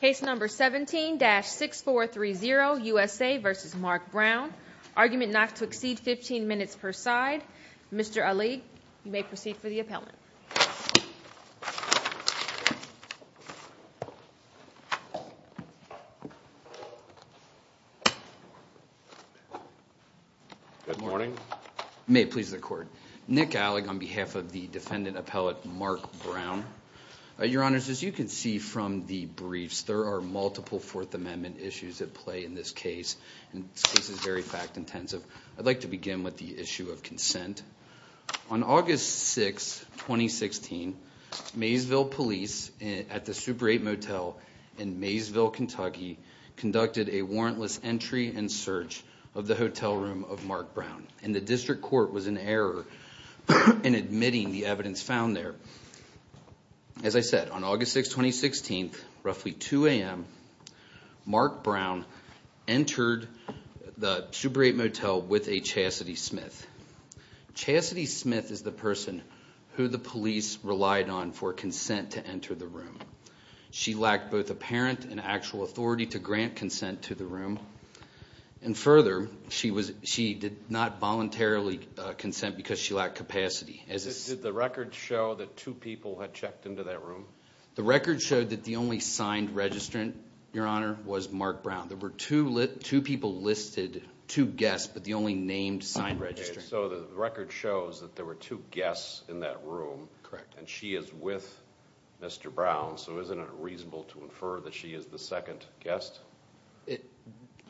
Case number 17-6430 USA v. Mark Brown argument not to exceed 15 minutes per side. Mr. Alig, you may proceed for the appellant. Good morning. May it please the court. Nick Alig on behalf of the defendant appellate Mark Brown. Your multiple Fourth Amendment issues at play in this case and this case is very fact intensive. I'd like to begin with the issue of consent. On August 6, 2016, Maysville police at the Super 8 Motel in Maysville, Kentucky conducted a warrantless entry and search of the hotel room of Mark Brown and the district court was in error in admitting the evidence found there. As I said on August 6, 2016, roughly 2 a.m., Mark Brown entered the Super 8 Motel with a Chasity Smith. Chasity Smith is the person who the police relied on for consent to enter the room. She lacked both apparent and actual authority to grant consent to the room and further, she did not voluntarily consent because she lacked capacity. Did the records show that two people had entered the room? The record showed that the only signed registrant, your honor, was Mark Brown. There were two people listed, two guests, but the only named signed registrant. So the record shows that there were two guests in that room and she is with Mr. Brown, so isn't it reasonable to infer that she is the second guest?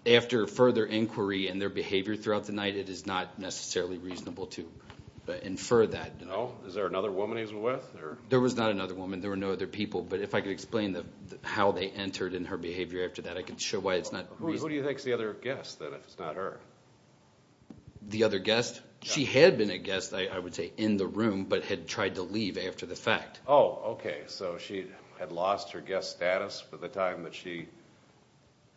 After further inquiry and their behavior throughout the night, it is not necessarily reasonable to infer that. No? Is there another woman he's with? There was not another woman. There were no other people, but if I could explain how they entered and her behavior after that, I could show why it's not reasonable. Who do you think is the other guest, then, if it's not her? The other guest? She had been a guest, I would say, in the room, but had tried to leave after the fact. Oh, okay, so she had lost her guest status for the time that she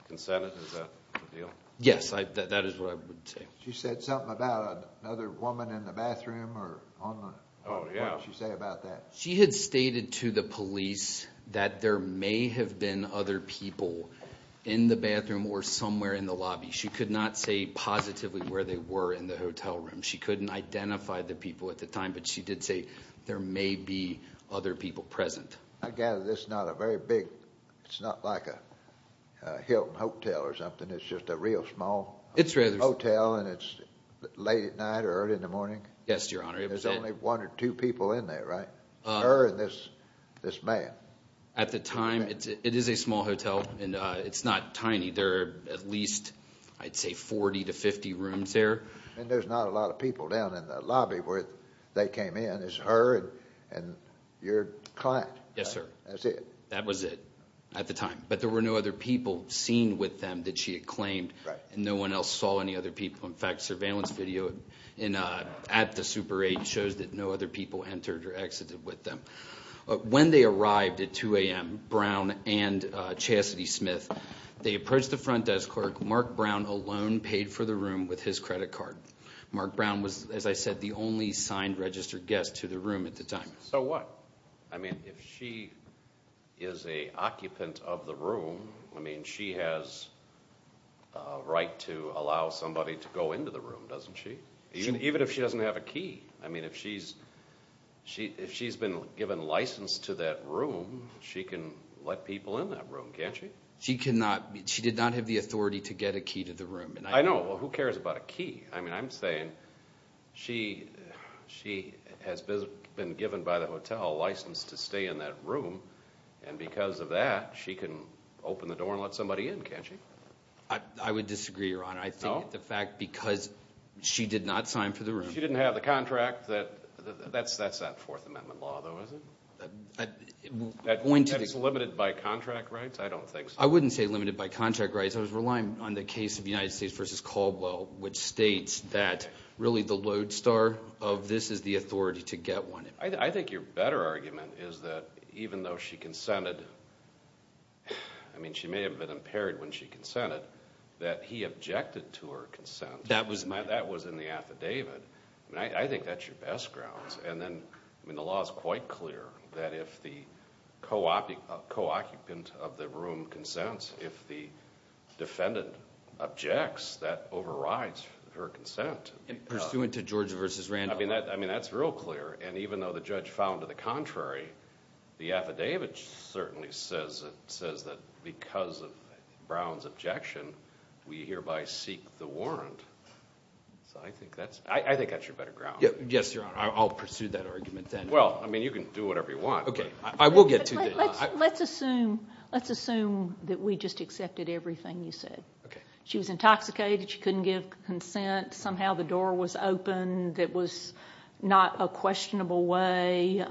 consented? Is that the deal? Yes, that is what I would say. She said something about another woman in the bathroom? She had stated to the police that there may have been other people in the bathroom or somewhere in the lobby. She could not say positively where they were in the hotel room. She couldn't identify the people at the time, but she did say there may be other people present. I gather it's not a very big, it's not like a Hilton Hotel or something, it's just a real small hotel and it's late at night or early in the morning? Yes, Your Honor. There's only one or two people in there, right? Her and this man. At the time, it is a small hotel and it's not tiny. There are at least, I'd say, 40 to 50 rooms there. And there's not a lot of people down in the lobby where they came in. It's her and your client. Yes, sir. That's it. That was it at the time, but there were no other people seen with them that she had claimed and no one else saw any other people. In fact, surveillance video at the Super 8 shows that no other people entered or exited with them. When they arrived at 2 a.m., Brown and Chasity Smith, they approached the front desk clerk. Mark Brown alone paid for the room with his credit card. Mark Brown was, as I said, the only signed registered guest to the room at the time. So what? I mean, if she is a occupant of the room, I mean, she has a right to allow somebody to go into the room, doesn't she? Even if she doesn't have a key. I mean, if she's been given license to that room, she can let people in that room, can't she? She did not have the authority to get a key to the room. I know. Well, who cares about a key? I mean, I'm saying she has been given by the hotel license to stay in that room and because of that, she can open the door and let somebody in, can't she? I would disagree, Your Honor. I think the fact because she did not sign for the room. She didn't have the contract. That's that Fourth Amendment law, though, is it? That's limited by contract rights? I don't think so. I wouldn't say limited by contract rights. I was relying on the case of United States versus Caldwell, which states that really the lodestar of this is the authority to get I think your better argument is that even though she consented, I mean, she may have been impaired when she consented, that he objected to her consent. That was in the affidavit. I think that's your best grounds and then I mean the law is quite clear that if the co-occupant of the room consents, if the defendant objects, that overrides her consent. Pursuant to Georgia versus Randolph. I mean, that's real clear and even though the judge found to the contrary, the affidavit certainly says that because of Brown's objection, we hereby seek the warrant. I think that's your better ground. Yes, Your Honor. I'll pursue that argument then. Well, I mean, you can do whatever you want. Okay. I will get to that. Let's assume that we just accepted everything you said. Okay. She was intoxicated. She couldn't give consent. Somehow the door was open. That was not a questionable way.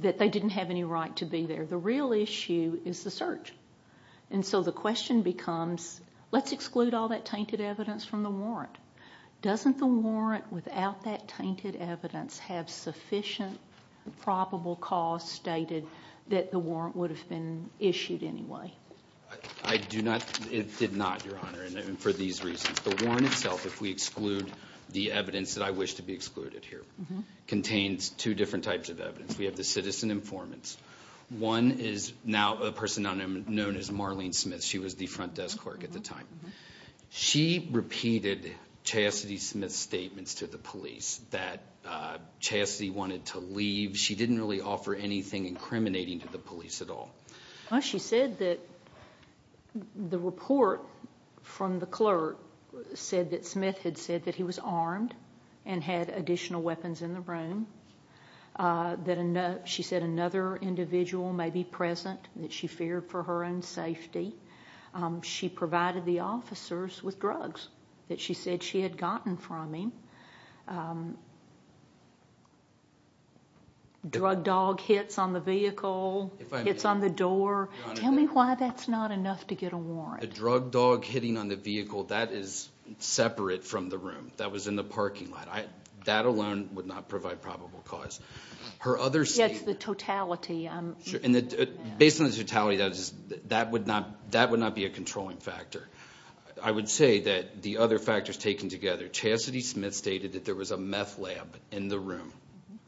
That they didn't have any right to be there. The real issue is the search. And so the question becomes, let's exclude all that tainted evidence from the warrant. Doesn't the warrant without that tainted evidence have sufficient probable cause stated that the warrant would have been issued anyway? I do not. It did not, Your Honor. And for these reasons. The warrant itself, if we exclude the evidence that I wish to be excluded here, contains two different types of evidence. We have the citizen informants. One is now a person known as Marlene Smith. She was the front desk clerk at the time. She repeated Chastity Smith's statements to the police that Chastity wanted to leave. She didn't really offer anything incriminating to the police at all. She said that the report from the clerk said that Smith had said that he was armed and had additional weapons in the room. That she said another individual may be present that she feared for her own safety. She provided the officers with drugs that she said she had gotten from the scene. Drug dog hits on the vehicle, hits on the door. Tell me why that's not enough to get a warrant. The drug dog hitting on the vehicle, that is separate from the room. That was in the parking lot. That alone would not provide probable cause. Her other statement. It's the totality. Based on the totality, that would not be a controlling factor. I would say that the other factors taken together, Chastity Smith stated that there was a meth lab in the room.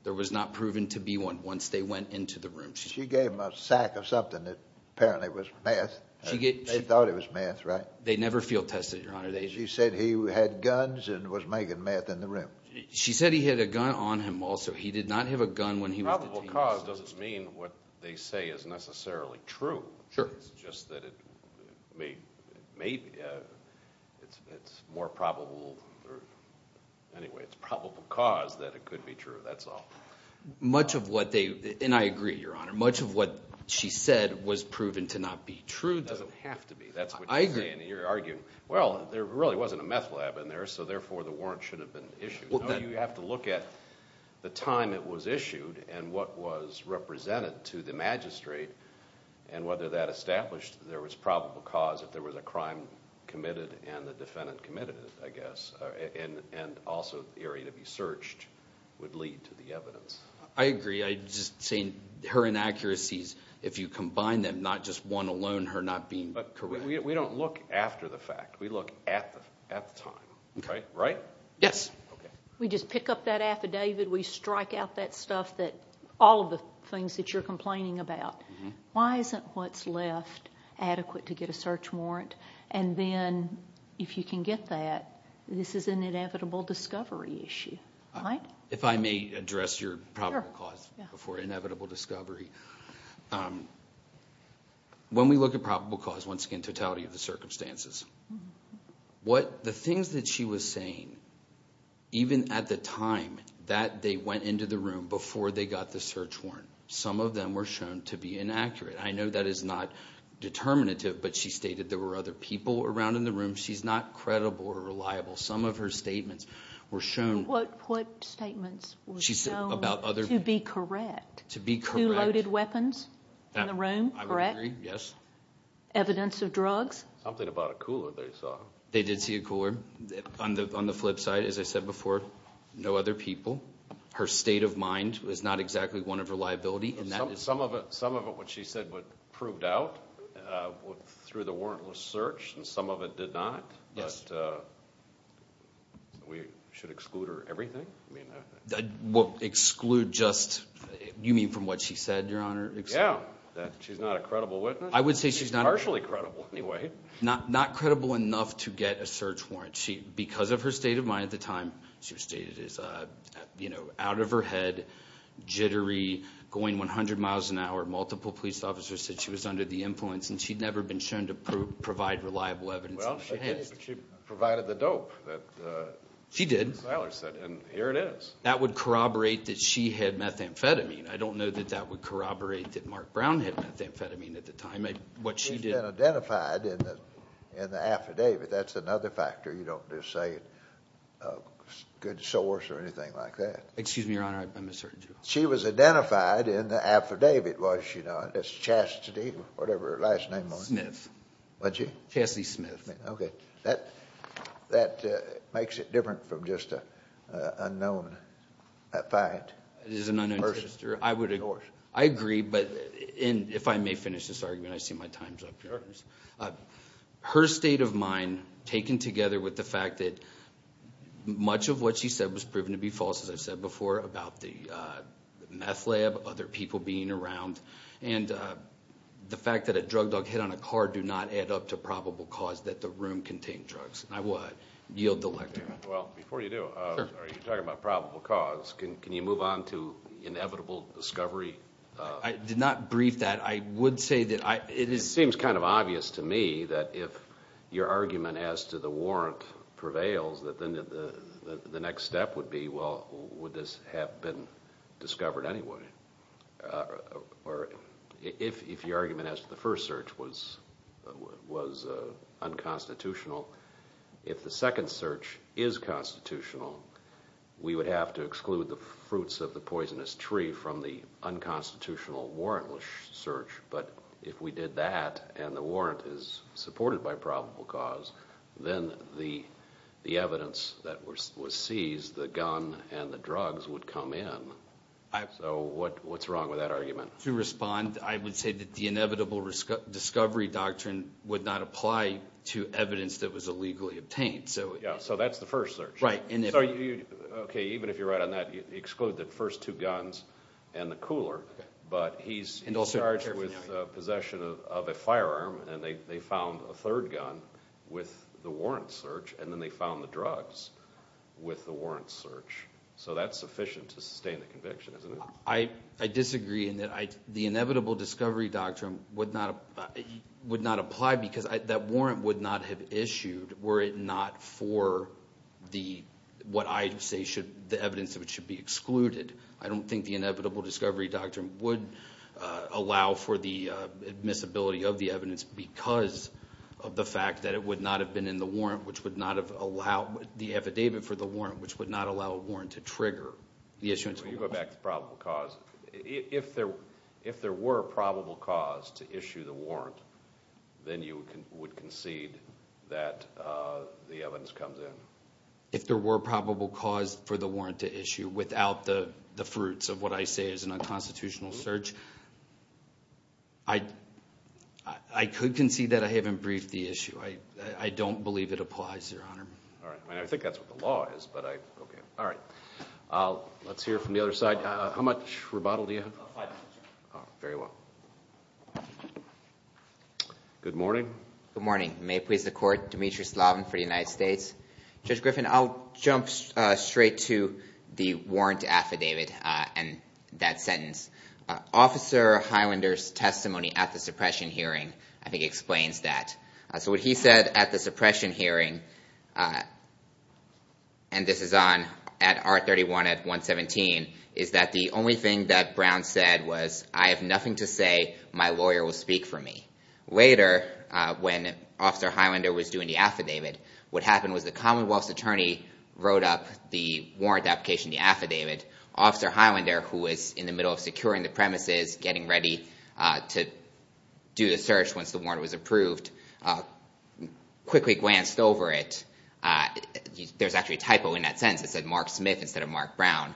There was not proven to be one once they went into the room. She gave him a sack of something that apparently was meth. They thought it was meth, right? They never field tested it, your honor. She said he had guns and was making meth in the room. She said he had a gun on him also. He did not have a gun when he was detained. Probable cause doesn't mean what they say is necessarily true. It's just that it may be. It's more probable. Anyway, it's probable cause that it could be true. That's all. Much of what they, and I agree, your honor, much of what she said was proven to not be true. It doesn't have to be. That's what I agree. You're arguing, well, there really wasn't a meth lab in there, so therefore the warrant should have been issued. You have to look at the time it was issued and what was represented to the magistrate and whether that established there was probable cause. If there was a crime committed and the defendant committed it, I guess, and also the area to be searched would lead to the evidence. I agree. I'm just saying her inaccuracies, if you combine them, not just one alone, her not being correct. We don't look after the fact. We look at the time, right? Yes. We just pick up that affidavit. We strike out that stuff that, all of the things that you're complaining about. Why isn't what's left adequate to get a search warrant? Then, if you can get that, this is an inevitable discovery issue, right? If I may address your probable cause for inevitable discovery. When we look at probable cause, once again, totality of the circumstances, the things that she was saying, even at the time that they went into the room before they got the search warrant, some of them were shown to be inaccurate. I know that is not determinative, but she stated there were other people around in the room. She's not credible or reliable. Some of her statements were shown. What statements were shown to be correct? To be correct. Two loaded weapons in the room, correct? I would agree, yes. Evidence of drugs? Something about a cooler they saw. They did see a cooler. On the flip side, as I said before, no other people. Her state of mind is not exactly one of reliability. Some of it, what she said, proved out through the warrantless search, and some of it did not, but we should exclude her everything? Exclude just, you mean from what she said, Your Honor? Yeah, that she's not a credible witness. I would say she's not partially credible anyway. Not credible enough to get a search warrant. Because of her state of mind at the time, she was stated as, you know, out of her head, jittery, going 100 miles an hour. Multiple police officers said she was under the influence, and she'd never been shown to provide reliable evidence. Well, she provided the dope that Siler said, and here it is. She did. That would corroborate that she had methamphetamine. I don't know that that would corroborate that She was identified in the affidavit. That's another factor. You don't just say a good source or anything like that. Excuse me, Your Honor, I'm asserting you. She was identified in the affidavit, was she not? It's Chastity, whatever her last name was. Smith. What's she? Chastity Smith. Okay, that makes it different from just an unknown, a fine person. I agree, but if I may finish this argument, I see my time's up, Your Honor. Her state of mind, taken together with the fact that much of what she said was proven to be false, as I've said before, about the meth lab, other people being around, and the fact that a drug dog hit on a car do not add up to probable cause that the room contained drugs. And I will yield the lectern. Well, before you do, you're talking about probable cause. Can you move on to inevitable discovery? I did not brief that. I would say that I... It seems kind of obvious to me that if your argument as to the warrant prevails, that then the next step would be, well, would this have been discovered anyway? Or if your argument as to the first search was unconstitutional, if the second search is constitutional, we would have to exclude the fruits of the poisonous tree from the unconstitutional warrantless search. But if we did that, and the warrant is supported by probable cause, then the evidence that was seized, the gun and the drugs, would come in. So what's wrong with that argument? To respond, I would say that the inevitable discovery doctrine would not apply to evidence that was illegally obtained. So that's the first search. Okay, even if you're right on that, you exclude the first two guns and the cooler, but he's charged with possession of a firearm, and they found a third gun with the warrant search, and then they found the drugs with the warrant search. So that's sufficient to sustain the conviction, isn't it? I disagree in that the inevitable discovery doctrine would not apply because that warrant would not have issued were it not for what I say the evidence of it should be excluded. I don't think the inevitable discovery doctrine would allow for the admissibility of the evidence because of the fact that it would not have been in the warrant, which would not have allowed the affidavit for the warrant, which would not allow a warrant to trigger the issuance of the warrant. So you go back to probable cause. If there were probable cause to issue the warrant, then you would concede that the evidence comes in? If there were probable cause for the warrant to issue without the fruits of what I say is an unconstitutional search, I could concede that I haven't briefed the issue. I don't believe it applies, Your Honor. All right. I mean, I think that's what the law is, but I... Okay. All right. Let's hear from the other side. How much rebuttal do you have? Five minutes, Your Honor. Very well. Good morning. Good morning. May it please the Court. Dimitri Slavin for the United States. Judge Griffin, I'll jump straight to the warrant affidavit and that sentence. Officer Highlander's testimony at the suppression hearing, I think, explains that. So what he said at the suppression hearing, and this is on at R31 at 117, is that the only thing that Brown said was, I have nothing to say. My lawyer will speak for me. Later, when Officer Highlander was doing the affidavit, what happened was the Commonwealth's attorney wrote up the warrant application, the affidavit. Officer Highlander, who was in the middle of securing the premises, getting ready to do the search once the warrant was approved, quickly glanced over it. There's actually a typo in that sentence. It said Mark Smith instead of Mark Brown.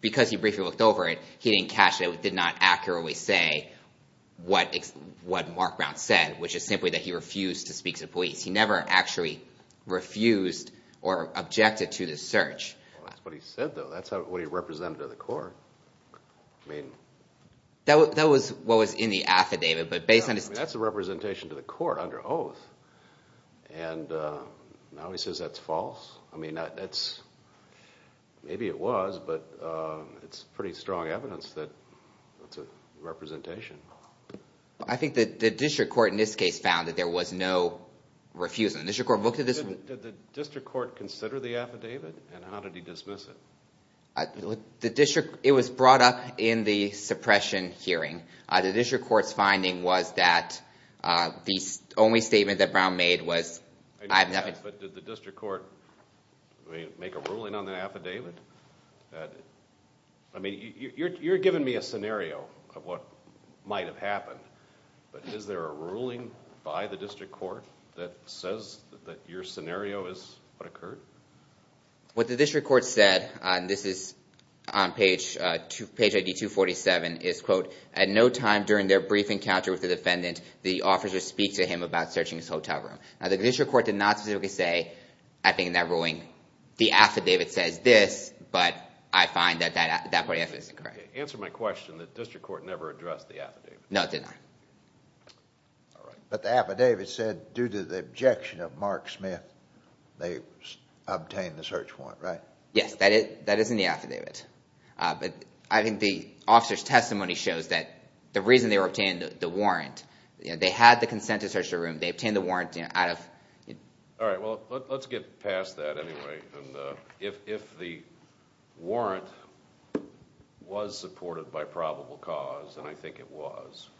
Because he briefly looked over it, he didn't catch it. It did not accurately say what Mark Brown said, which is simply that he refused to speak to police. He never actually refused or objected to the search. That's what he said, though. That's what he represented to the court. That was what was in the affidavit. That's a representation to the court under oath. Now he says that's false? Maybe it was, but it's pretty strong evidence that it's a representation. I think the district court in this case, there was no refusal. Did the district court consider the affidavit and how did he dismiss it? It was brought up in the suppression hearing. The district court's finding was that the only statement that Brown made was... Did the district court make a ruling on the affidavit? You're giving me a scenario of what might have happened, but is there a ruling by the district court that says that your scenario is what occurred? What the district court said, and this is on page ID 247, is, quote, at no time during their brief encounter with the defendant, the officer speak to him about searching his hotel room. Now the district court did not specifically say, I think in that ruling, the affidavit says this, but I find that that No, it did not. But the affidavit said, due to the objection of Mark Smith, they obtained the search warrant, right? Yes, that is in the affidavit, but I think the officer's testimony shows that the reason they obtained the warrant, they had the consent to search the room, they obtained the warrant out of... All right, well, let's get past that anyway, and if the warrant was supported by probable cause, and I think it was,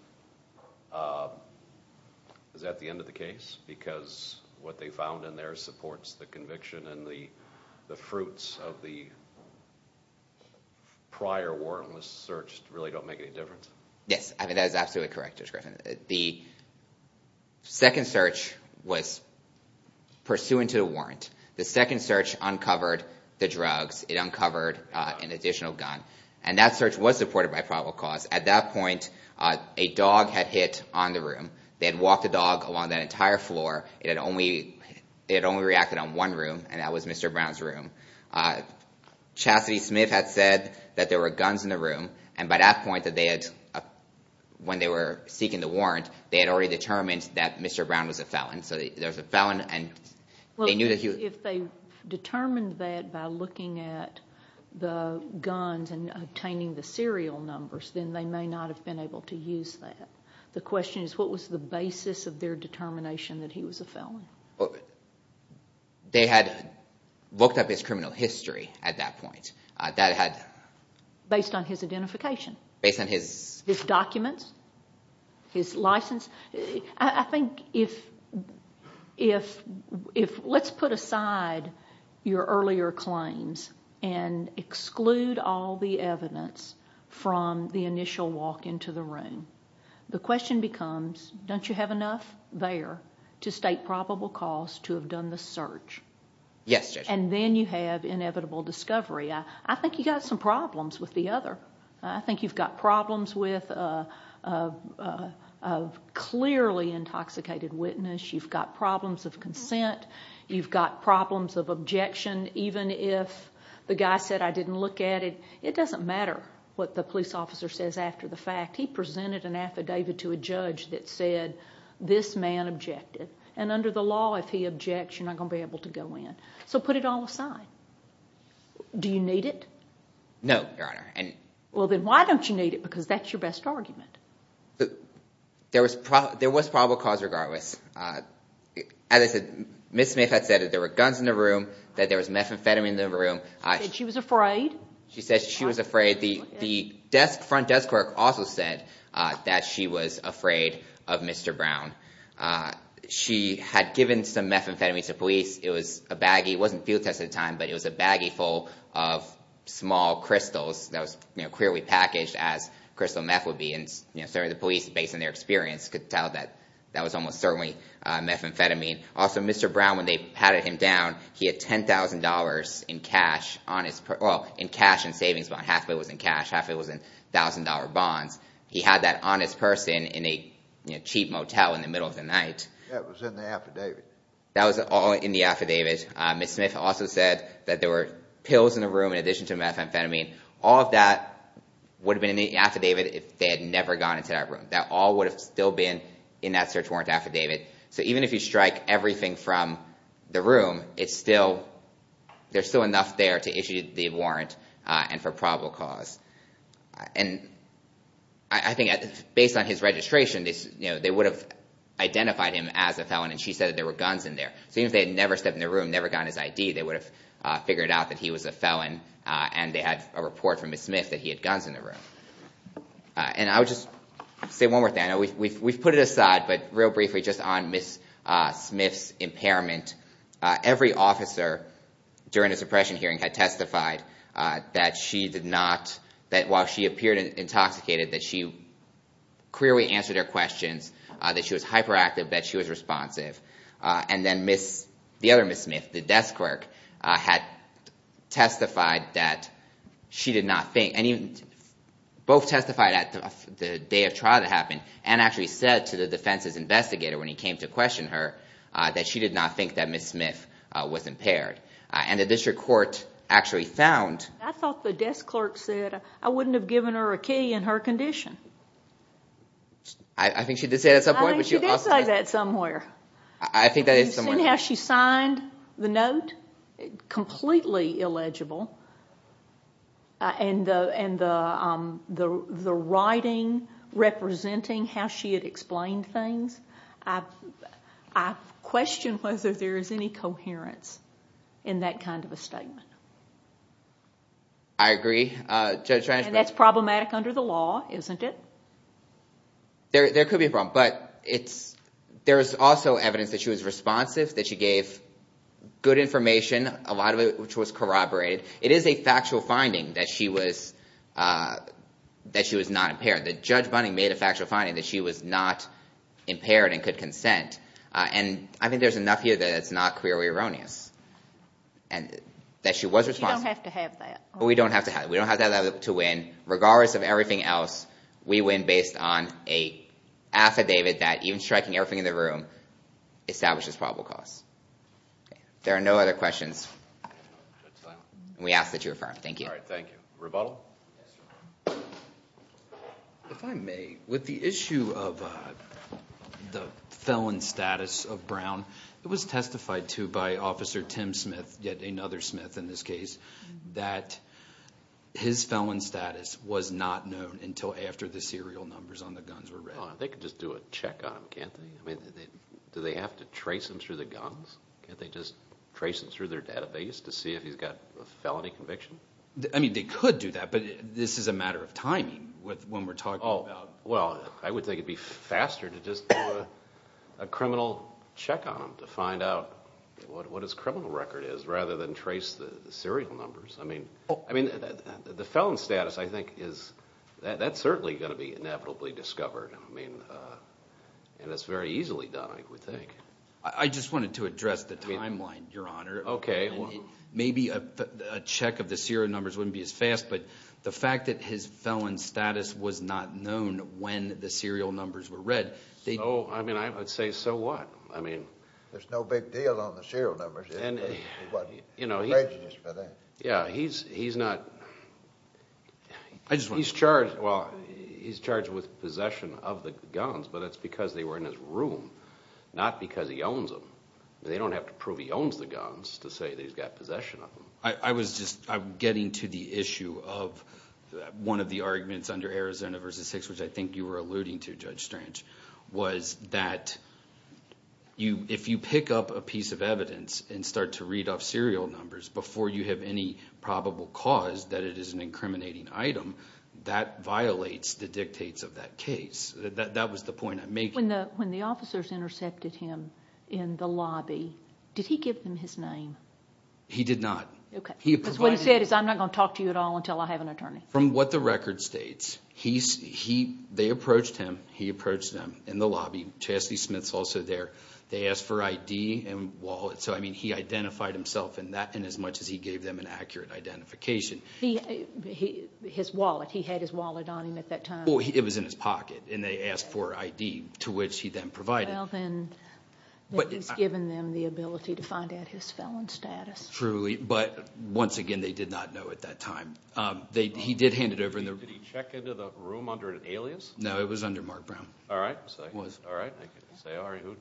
is that the end of the case? Because what they found in there supports the conviction and the the fruits of the prior warrantless search really don't make any difference? Yes, I mean, that is absolutely correct, Judge Griffin. The second search was pursuant to a warrant. The second search uncovered the drugs. It uncovered an additional gun, and that search was supported by probable cause. At that point, a dog had hit on the room. They had walked the dog along that entire floor. It had only reacted on one room, and that was Mr. Brown's room. Chastity Smith had said that there were guns in the room, and by that point, when they were seeking the warrant, they had already determined that Mr. Brown was a felon. So there's a felon, and if they determined that by looking at the guns and obtaining the serial numbers, then they may not have been able to use that. The question is, what was the basis of their determination that he was a felon? They had looked up his criminal history at that point. That had... Based on his Let's put aside your earlier claims and exclude all the evidence from the initial walk into the room. The question becomes, don't you have enough there to state probable cause to have done the search? Yes, Judge. And then you have inevitable discovery. I think you've got some problems with the other. I think you've got problems with a clearly intoxicated witness. You've got problems of consent. You've got problems of objection, even if the guy said, I didn't look at it. It doesn't matter what the police officer says after the fact. He presented an affidavit to a judge that said, this man objected, and under the law, if he objects, you're not going to be able to go in. So put it all aside. Do you need it? No, Your Honor. Well, then why don't you need it? Because that's your best argument. There was probable cause regardless. As I said, Ms. Smith had said that there were guns in the room, that there was methamphetamine in the room. She said she was afraid? She said she was afraid. The front desk clerk also said that she was afraid of Mr. Brown. She had given some methamphetamine to police. It was a baggie. It wasn't field tested at the time, but it was a baggie full of small crystals that was clearly packaged as crystal meth would be. And certainly, the police, based on their experience, could tell that that was almost certainly methamphetamine. Also, Mr. Brown, when they patted him down, he had $10,000 in cash on his purse. Well, in cash and savings. About half of it was in cash. Half of it was in $1,000 bonds. He had that on his purse in a cheap motel in the middle of the night. That was in the affidavit. That was all in the affidavit. Ms. Smith also said, that there were pills in the room in addition to methamphetamine. All of that would have been in the affidavit if they had never gone into that room. That all would have still been in that search warrant affidavit. So even if you strike everything from the room, there's still enough there to issue the warrant and for probable cause. And I think, based on his registration, they would have identified him as a felon, and she said that there were guns in there. So even if they had never stepped in the room, never gotten his ID, they would have figured out that he was a felon, and they had a report from Ms. Smith that he had guns in the room. And I would just say one more thing. We've put it aside, but real briefly, just on Ms. Smith's impairment. Every officer during the suppression hearing had testified that she did not, that while she appeared intoxicated, that she clearly answered her questions, that she was hyperactive, that she was responsive. And then the other Ms. Smith, the desk clerk, had testified that she did not think, both testified at the day of trial that happened, and actually said to the defense's investigator when he came to question her, that she did not think that Ms. Smith was impaired. And the district court actually found... I thought the desk clerk said, I wouldn't have given her a key in her condition. I think she did say that at some point. I think she did say that somewhere. I think that is somewhere. You've seen how she signed the note, completely illegible, and the writing representing how she had explained things. I've questioned whether there is any coherence in that kind of a statement. I agree. And that's problematic under the law, isn't it? There could be a problem, but there's also evidence that she was responsive, that she gave good information, a lot of it which was corroborated. It is a factual finding that she was not impaired, that Judge Bunning made a factual finding that she was not impaired and could consent. And I think there's enough here that it's not clearly erroneous, and that she was responsive. You don't have to have that. We don't have to have that. We don't have to have that to win. Regardless of everything else, we win based on an affidavit that, even striking everything in the room, establishes probable cause. There are no other questions. We ask that you affirm. Thank you. All right. Thank you. Rebuttal? If I may, with the issue of the felon status of Brown, it was testified to by Officer Tim Smith, another Smith in this case, that his felon status was not known until after the serial numbers on the guns were read. They could just do a check on him, can't they? Do they have to trace him through the guns? Can't they just trace him through their database to see if he's got a felony conviction? I mean, they could do that, but this is a matter of timing when we're talking about... Well, I would think it'd be faster to just do a criminal check on him to find out what his criminal record is, rather than trace the serial numbers. The felon status, I think, is... That's certainly going to be inevitably discovered. And it's very easily done, I would think. I just wanted to address the timeline, Your Honor. Okay. Maybe a check of the serial numbers wouldn't be as fast, but the fact that his felon status was not known when the serial numbers were read... I mean, I would say, so what? There's no big deal on the serial numbers. Yeah, he's charged with possession of the guns, but it's because they were in his room, not because he owns them. They don't have to prove he owns the guns to say that he's got possession of them. I was just getting to the issue of one of the arguments under Arizona v. 6, which I think you were alluding to, Judge Strange, was that if you pick up a piece of evidence and start to read off serial numbers before you have any probable cause that it is an incriminating item, that violates the dictates of that case. That was the point I'm making. When the officers intercepted him in the lobby, did he give them his name? He did not. Okay, because what he said is, I'm not going to talk to you at all until I have an attorney. From what the record states, they approached him. He approached them in the lobby. Chastity Smith's also there. They asked for ID and wallet. So, I mean, he identified himself in that in as much as he gave them an accurate identification. His wallet. He had his wallet on him at that time. It was in his pocket, and they asked for ID, to which he then provided. Well, then, he's given them the ability to find out his felon status. Truly, but once again, they did not know at that time. He did hand it over. Did he check into the room under an alias? No, it was under Mark Brown. All right. It was. All right. I can say, all right, who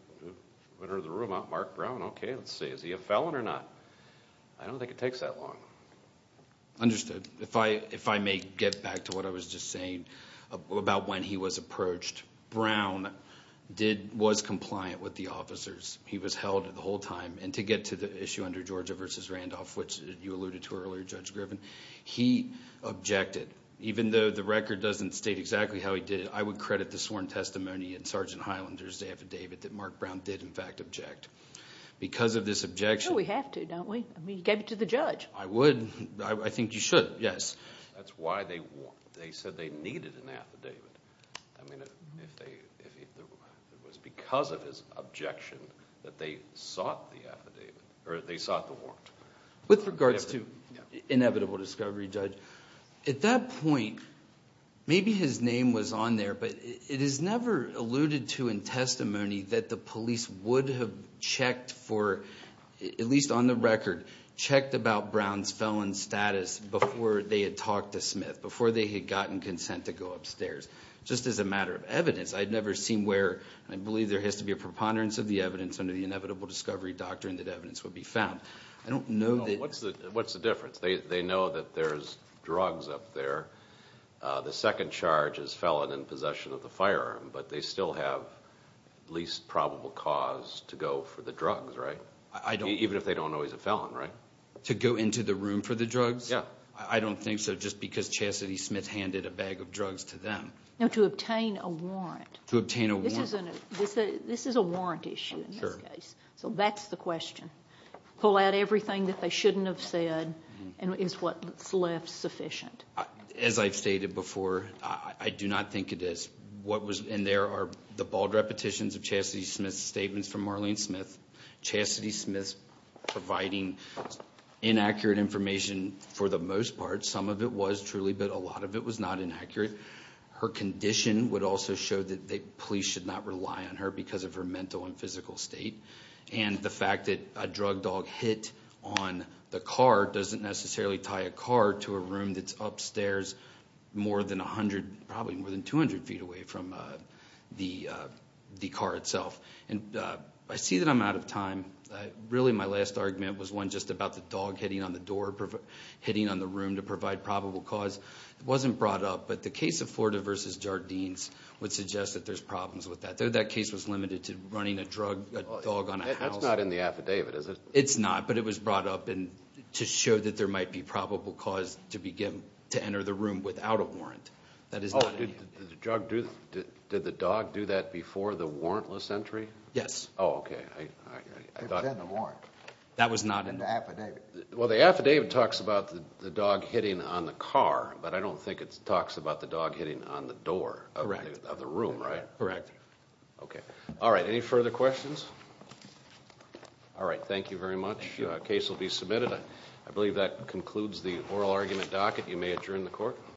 entered the room? Mark Brown. Okay, let's see. Is he a felon or not? I don't think it takes that long. Understood. If I may get back to what I was just saying about when he was approached, Brown was compliant with the officers. He was held the whole time. And to get to the issue under Georgia v. Randolph, which you alluded to earlier, Judge Griffin, objected. Even though the record doesn't state exactly how he did it, I would credit the sworn testimony in Sergeant Highlander's affidavit that Mark Brown did, in fact, object. Because of this objection... We have to, don't we? I mean, he gave it to the judge. I would. I think you should, yes. That's why they said they needed an affidavit. I mean, it was because of his objection that they sought the affidavit, or they sought the warrant. With regards to Inevitable Discovery, Judge, at that point, maybe his name was on there, but it is never alluded to in testimony that the police would have checked for, at least on the record, checked about Brown's felon status before they had talked to Smith, before they had gotten consent to go upstairs. Just as a matter of evidence, I'd never seen where, and I believe there has to be a preponderance of the evidence under the Inevitable Discovery doctrine that evidence would be found. I don't know that... What's the difference? They know that there's drugs up there. The second charge is felon in possession of the firearm, but they still have least probable cause to go for the drugs, right? I don't... Even if they don't know he's a felon, right? To go into the room for the drugs? Yeah. I don't think so, just because Chasity Smith handed a bag of drugs to them. No, to obtain a warrant. To obtain a warrant. This is a warrant issue in this case. So that's the question. Pull out everything that they shouldn't have said, and is what's left sufficient? As I've stated before, I do not think it is. What was... And there are the bald repetitions of Chasity Smith's statements from Marlene Smith. Chasity Smith's providing inaccurate information for the most part. Some of it was truly, but a lot of it was not inaccurate. Her condition would also show that police should not rely on her because of her mental and physical state. And the fact that a drug dog hit on the car doesn't necessarily tie a car to a room that's upstairs more than 100, probably more than 200 feet away from the car itself. And I see that I'm out of time. Really, my last argument was one just about the dog hitting on the door, hitting on the room to provide probable cause. It wasn't brought up, but the case of Florida versus Jardines would suggest that there's problems with that. Though that case was limited to running a drug dog on a house... That's not in the affidavit, is it? It's not, but it was brought up to show that there might be probable cause to enter the room without a warrant. That is not... Oh, did the dog do that before the warrantless entry? Yes. Oh, okay. It was in the warrant. That was not in... In the affidavit. Well, the affidavit talks about the dog hitting on the car, but I don't think it talks about the dog hitting on the door of the room, right? Correct. Okay. All right. Any further questions? All right. Thank you very much. The case will be submitted. I believe that concludes the oral argument docket. You may adjourn the court.